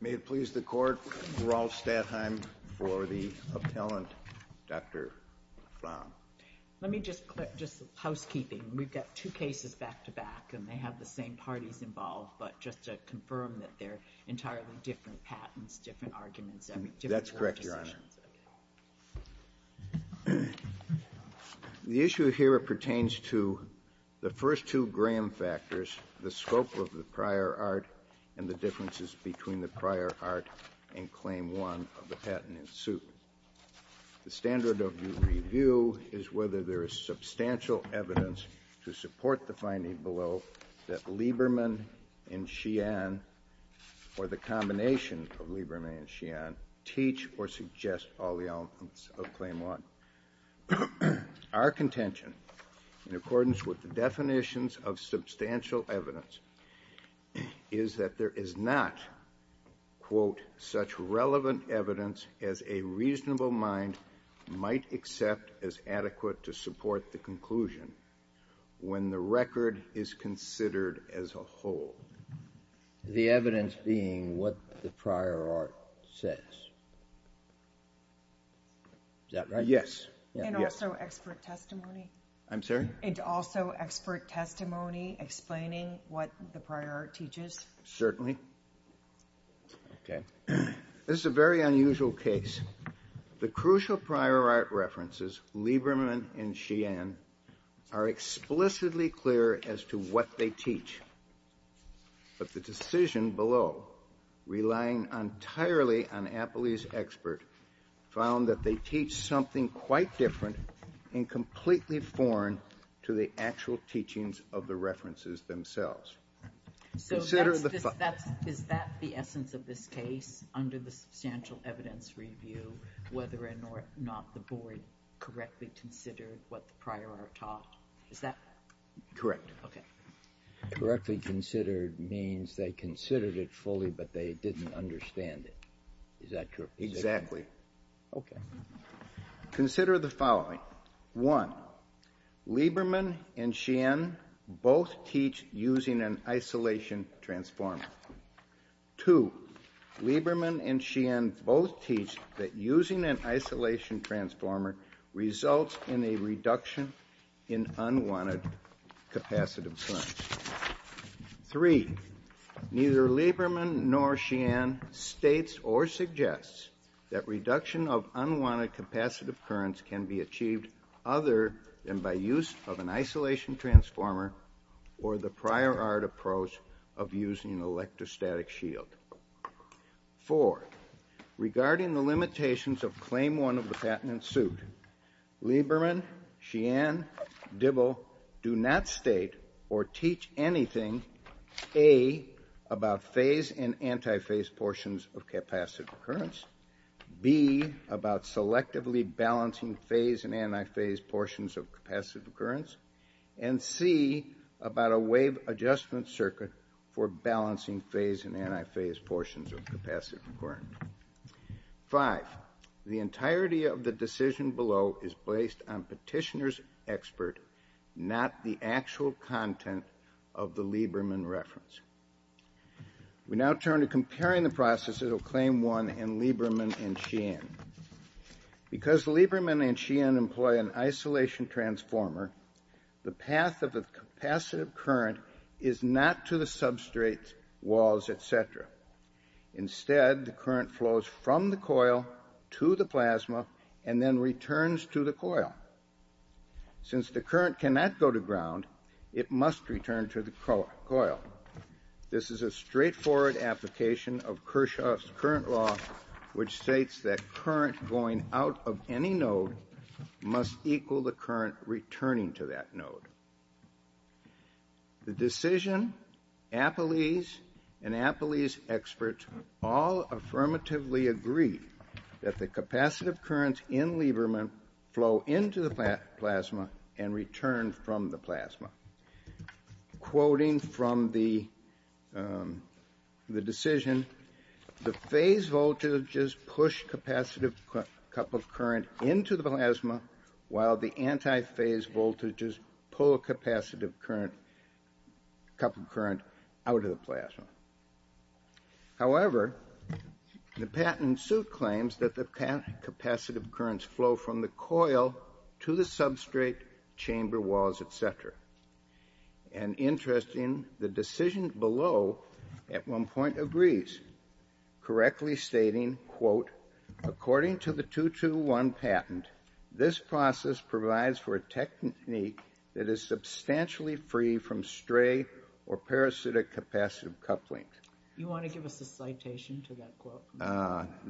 May it please the Court, Rolf Stadheim for the appellant, Dr. Flamm. Let me just, just housekeeping. We've got two cases back-to-back and they have the same parties involved, but just to confirm that they're entirely different patents, different arguments, different legislations. That's correct, Your Honor. The issue here pertains to the first two Graham factors, the scope of the prior art and the differences between the prior art and Claim 1 of the patent in suit. The standard of review is whether there is substantial evidence to support the finding below that Lieberman and Sheehan or the combination of Lieberman and Sheehan teach or suggest all the elements of Claim 1. Our contention, in accordance with the definitions of substantial evidence, is that there is not, quote, such relevant evidence as a reasonable mind might accept as adequate to support the conclusion when the record is considered as a whole. The evidence being what the prior art says. Is that right? Yes. And also expert testimony? I'm sorry? And also expert testimony explaining what the prior art teaches? Certainly. Okay. This is a very unusual case. The crucial prior art references, Lieberman and Sheehan, are explicitly clear as to what they teach. But the decision below, relying entirely on Appley's expert, found that they teach something quite different and completely foreign to the actual teachings of the references themselves. So is that the essence of this case, under the substantial evidence review, whether or not the board correctly considered what the prior art taught? Is that correct? Correct. Okay. Correctly considered means they considered it fully, but they didn't understand it. Is that correct? Exactly. Okay. Consider the following. One, Lieberman and Sheehan both teach using an isolation transformer. Two, Lieberman and Sheehan both teach that using an isolation transformer results in a reduction in unwanted capacitive time. Three, neither Lieberman nor Sheehan states or suggests that reduction of unwanted capacitive currents can be achieved other than by use of an isolation transformer or the prior art approach of using an electrostatic shield. Four, regarding the limitations of Claim 1 of the Patent and Suit, Lieberman, Sheehan, Dibble do not state or teach anything, A, about phase and antiphase portions of capacitive currents, B, about selectively balancing phase and antiphase portions of capacitive currents, and C, about a wave adjustment circuit for balancing phase and antiphase portions of capacitive currents. Five, the entirety of the decision below is based on petitioner's expert, not the actual content of the Lieberman reference. We now turn to comparing the processes of Claim 1 and Lieberman and Sheehan. Because Lieberman and Sheehan employ an isolation transformer, the path of the capacitive current is not to the substrate walls, etc. Instead, the current flows from the coil to the plasma and then returns to the coil. Since the current cannot go to ground, it must return to the coil. This is a straightforward application of Kirchhoff's Current Law, which states that current going out of any node must equal the current returning to that node. The decision, Apalis, and Apalis experts all affirmatively agree that the capacitive currents in Lieberman flow into the plasma and return from the plasma. Quoting from the decision, the phase voltages push capacitive couple of current into the plasma, while the antiphase voltages pull a couple of current out of the plasma. However, the patent suit claims that the capacitive currents flow from the coil to the substrate, chamber walls, etc. And interesting, the decision below at one point agrees, correctly stating, quote, According to the 221 patent, this process provides for a technique that is substantially free from stray or parasitic capacitive couplings. You want to give us a citation to that quote?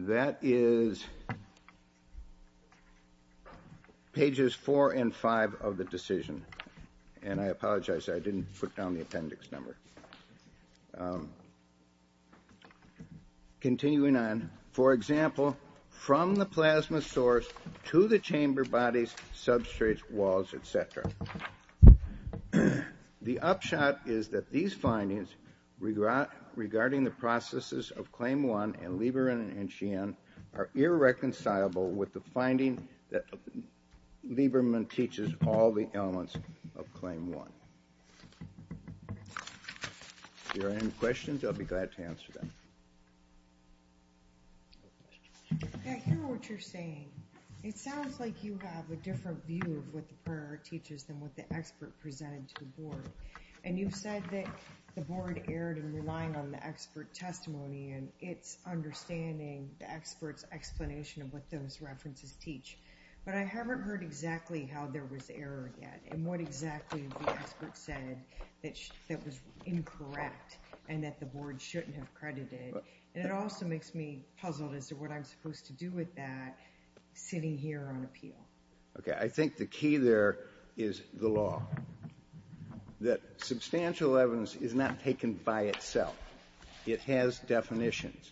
That is pages 4 and 5 of the decision. And I apologize, I didn't put down the appendix number. Continuing on, for example, from the plasma source to the chamber bodies, substrates, walls, etc. The upshot is that these findings regarding the processes of Claim 1 and Lieberman and Sheehan are irreconcilable with the finding that Lieberman teaches all the elements of Claim 1. If there are any questions, I'll be glad to answer them. I hear what you're saying. It sounds like you have a different view of what the prior teaches than what the expert presented to the board. And you've said that the board erred in relying on the expert testimony and it's understanding the experts explanation of what those references teach. But I haven't heard exactly how there was error yet. And what exactly the expert said that was incorrect and that the board shouldn't have credited. And it also makes me puzzled as to what I'm supposed to do with that sitting here on appeal. Okay, I think the key there is the law. That substantial evidence is not taken by itself. It has definitions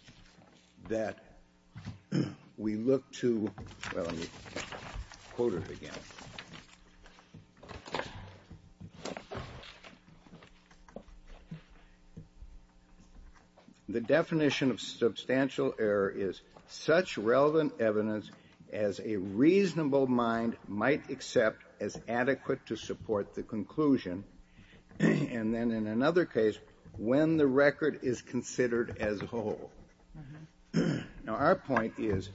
that we look to. The definition of substantial error is such relevant evidence as a reasonable mind might accept as adequate to support the conclusion. And then in another case, when the record is considered as whole. Now, our point is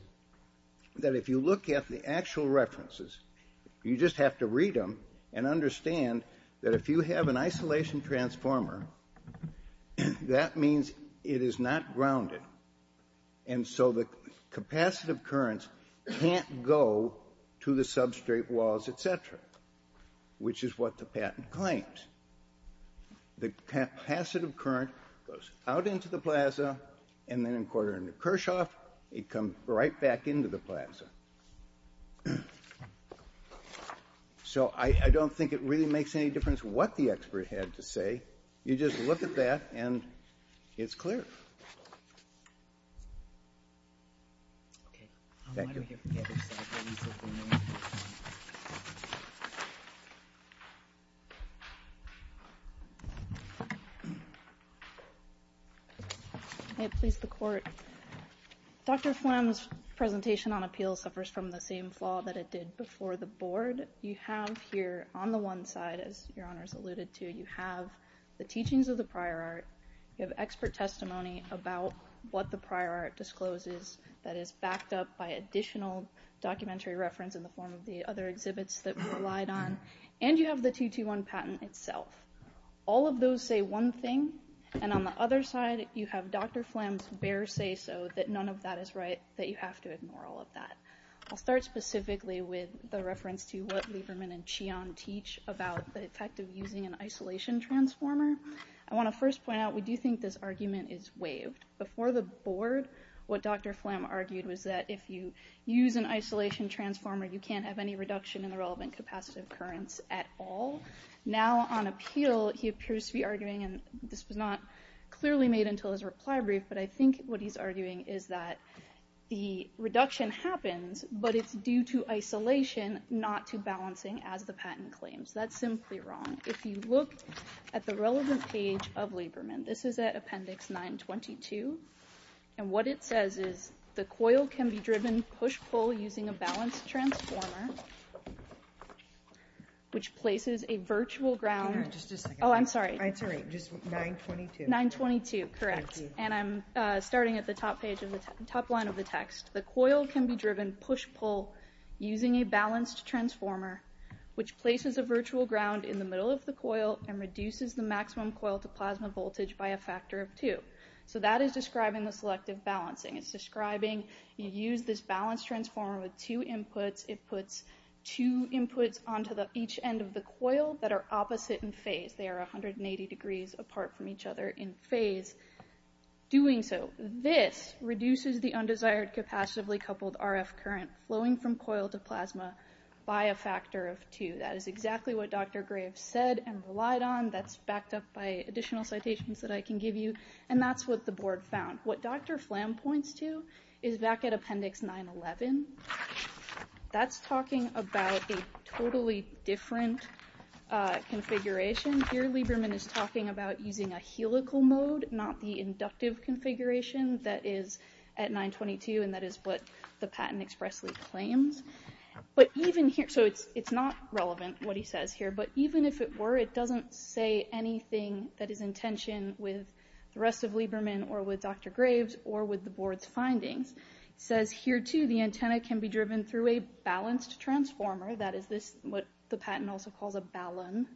that if you look at the actual references, you just have to read them and understand that if you have an isolation transformer, that means it is not grounded. And so the capacitive currents can't go to the substrate walls, et cetera, which is what the patent claims. The capacitive current goes out into the plaza and then encoded in the Kirchhoff. It comes right back into the plaza. So I don't think it really makes any difference what the expert had to say. You just look at that and it's clear. It pleased the court. Dr. Flem's presentation on appeal suffers from the same flaw that it did before the board. You have here on the one side, as your honors alluded to, you have the teachings of the prior art. You have expert testimony about what the prior art discloses that is backed up by additional documentary reference in the form of the other exhibits that we relied on. And you have the 221 patent itself. All of those say one thing. And on the other side, you have Dr. Flem's bare say so that none of that is right, that you have to ignore all of that. I'll start specifically with the reference to what Lieberman and Qian teach about the effect of using an isolation transformer. I want to first point out, we do think this argument is waived. Before the board, what Dr. Flem argued was that if you use an isolation transformer, you can't have any reduction in the relevant capacitive currents at all. Now on appeal, he appears to be arguing, and this was not clearly made until his reply brief, but I think what he's arguing is that the reduction happens, but it's due to isolation, not to balancing as the patent claims. That's simply wrong. If you look at the relevant page of Lieberman, this is at appendix 922. And what it says is, the coil can be driven push-pull using a balanced transformer, which places a virtual ground. Oh, I'm sorry. It's all right. Just 922. 922, correct. And I'm starting at the top line of the text. The coil can be driven push-pull using a balanced transformer, which places a virtual ground in the middle of the coil and reduces the maximum coil to plasma voltage by a factor of two. So that is describing the selective balancing. It's describing you use this balanced transformer with two inputs. It puts two inputs onto each end of the coil that are opposite in phase. They are 180 degrees apart from each other in phase. Doing so, this reduces the undesired capacitively coupled RF current flowing from coil to plasma by a factor of two. That is exactly what Dr. Graves said and relied on. That's backed up by additional citations that I can give you. And that's what the board found. What Dr. Flam points to is back at Appendix 911. That's talking about a totally different configuration. Here, Lieberman is talking about using a helical mode, not the inductive configuration that is at 922, and that is what the patent expressly claims. It's not relevant what he says here, but even if it were, it doesn't say anything that is in tension with the rest of Lieberman or with Dr. Graves or with the board's findings. It says here, too, the antenna can be driven through a balanced transformer, that is what the patent also calls a ballon,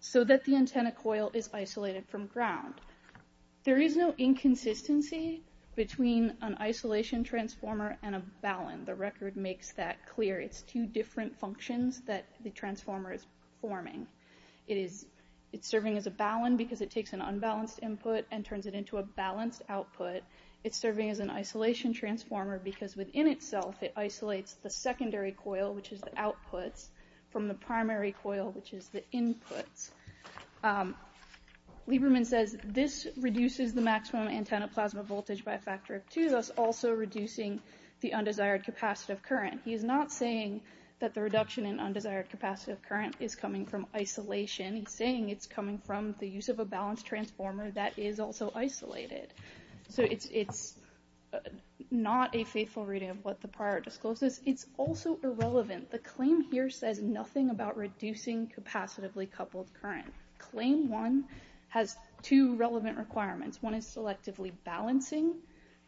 so that the antenna coil is isolated from ground. There is no inconsistency between an isolation transformer and a ballon. The record makes that clear. It's two different functions that the transformer is forming. It's serving as a ballon because it takes an unbalanced input and turns it into a balanced output. It's serving as an isolation transformer because within itself it isolates the secondary coil, which is the outputs, from the primary coil, which is the inputs. Lieberman says this reduces the maximum antenna plasma voltage by a factor of two, thus also reducing the undesired capacitive current. He is not saying that the reduction in undesired capacitive current is coming from isolation. He's saying it's coming from the use of a balanced transformer that is also isolated. So it's not a faithful reading of what the prior discloses. It's also irrelevant. The claim here says nothing about reducing capacitively coupled current. Claim one has two relevant requirements. One is selectively balancing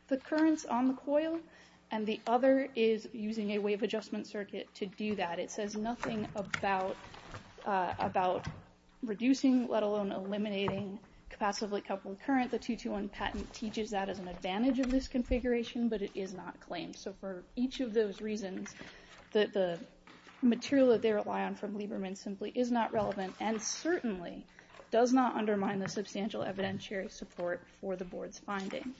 the currents on the coil, and the other is using a wave adjustment circuit to do that. It says nothing about reducing, let alone eliminating, capacitively coupled current. The 221 patent teaches that as an advantage of this configuration, but it is not claimed. So for each of those reasons, the material that they rely on from Lieberman simply is not relevant and certainly does not undermine the substantial evidentiary support for the board's findings.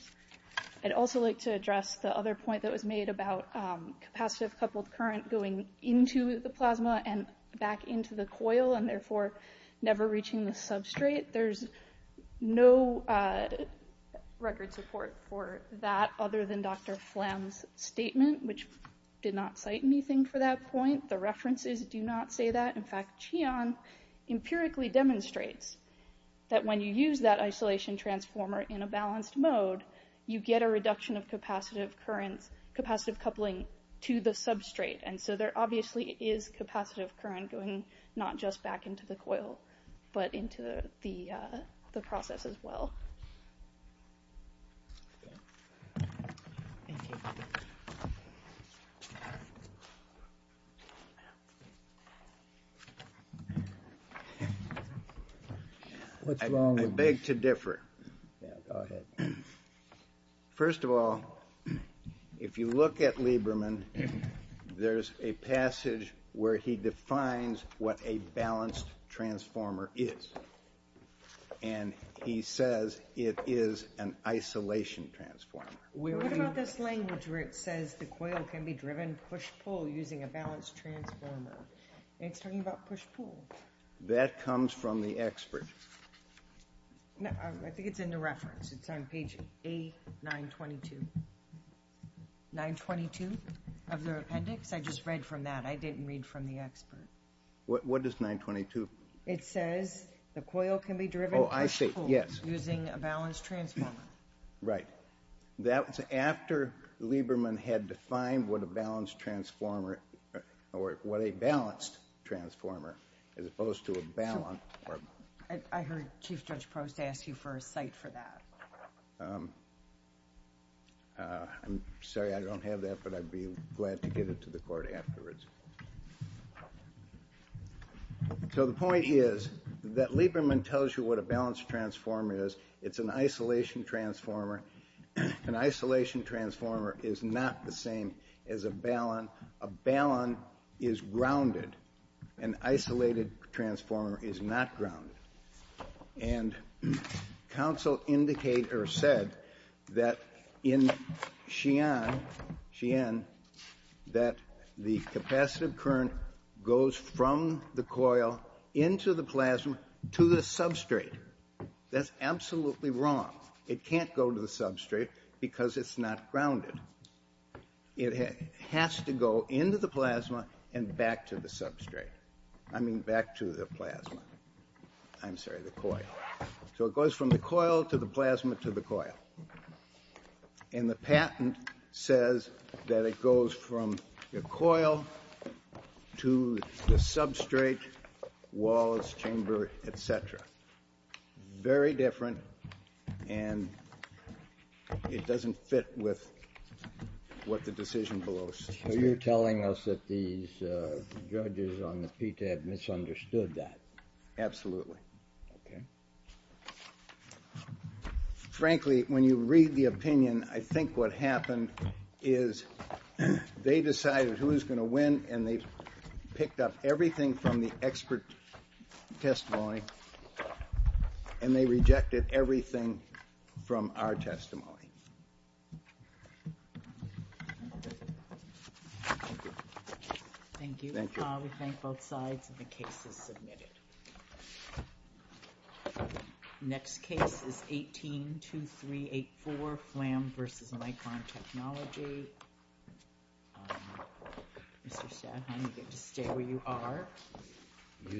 I'd also like to address the other point that was made about capacitive coupled current going into the plasma and back into the coil and therefore never reaching the substrate. There's no record support for that other than Dr. Pham's statement, which did not cite anything for that point. The references do not say that. In fact, Qian empirically demonstrates that when you use that isolation transformer in a balanced mode, you get a reduction of capacitive coupling to the substrate. And so there obviously is capacitive current going not just back into the coil, but into the process as well. Thank you. I beg to differ. Yeah, go ahead. First of all, if you look at Lieberman, there's a passage where he defines what a balanced transformer is. And he says it is an isolation transformer. What about this language where it says the coil can be driven push-pull using a balanced transformer? It's talking about push-pull. That comes from the expert. I think it's in the reference. It's on page A922. 922 of the appendix? I just read from that. I didn't read from the expert. What does 922? It says the coil can be driven push-pull using a balanced transformer. Right. That was after Lieberman had defined what a balanced transformer, or what a balanced transformer, as opposed to a balanced. I heard Chief Judge Probst ask you for a cite for that. I'm sorry, I don't have that, but I'd be glad to give it to the court afterwards. So the point is that Lieberman tells you what a balanced transformer is. It's an isolation transformer. An isolation transformer is not the same as a balanced. A balanced is grounded. An isolated transformer is not grounded. And counsel said that in Sheehan that the capacitive current goes from the coil into the plasma to the substrate. That's absolutely wrong. It can't go to the substrate because it's not grounded. It has to go into the plasma and back to the substrate. I mean back to the plasma. I'm sorry, the coil. So it goes from the coil to the plasma to the coil. And the patent says that it goes from the coil to the substrate, walls, chamber, et cetera. Very different, and it doesn't fit with what the decision below states. So you're telling us that these judges on the PTAB misunderstood that. Absolutely. Okay. Frankly, when you read the opinion, I think what happened is they decided who was going to win, and they picked up everything from the expert testimony, and they rejected everything from our testimony. Thank you. Thank you. We thank both sides, and the case is submitted. Next case is 182384, flam versus micron technology. Mr. Sheehan, you get to stay where you are.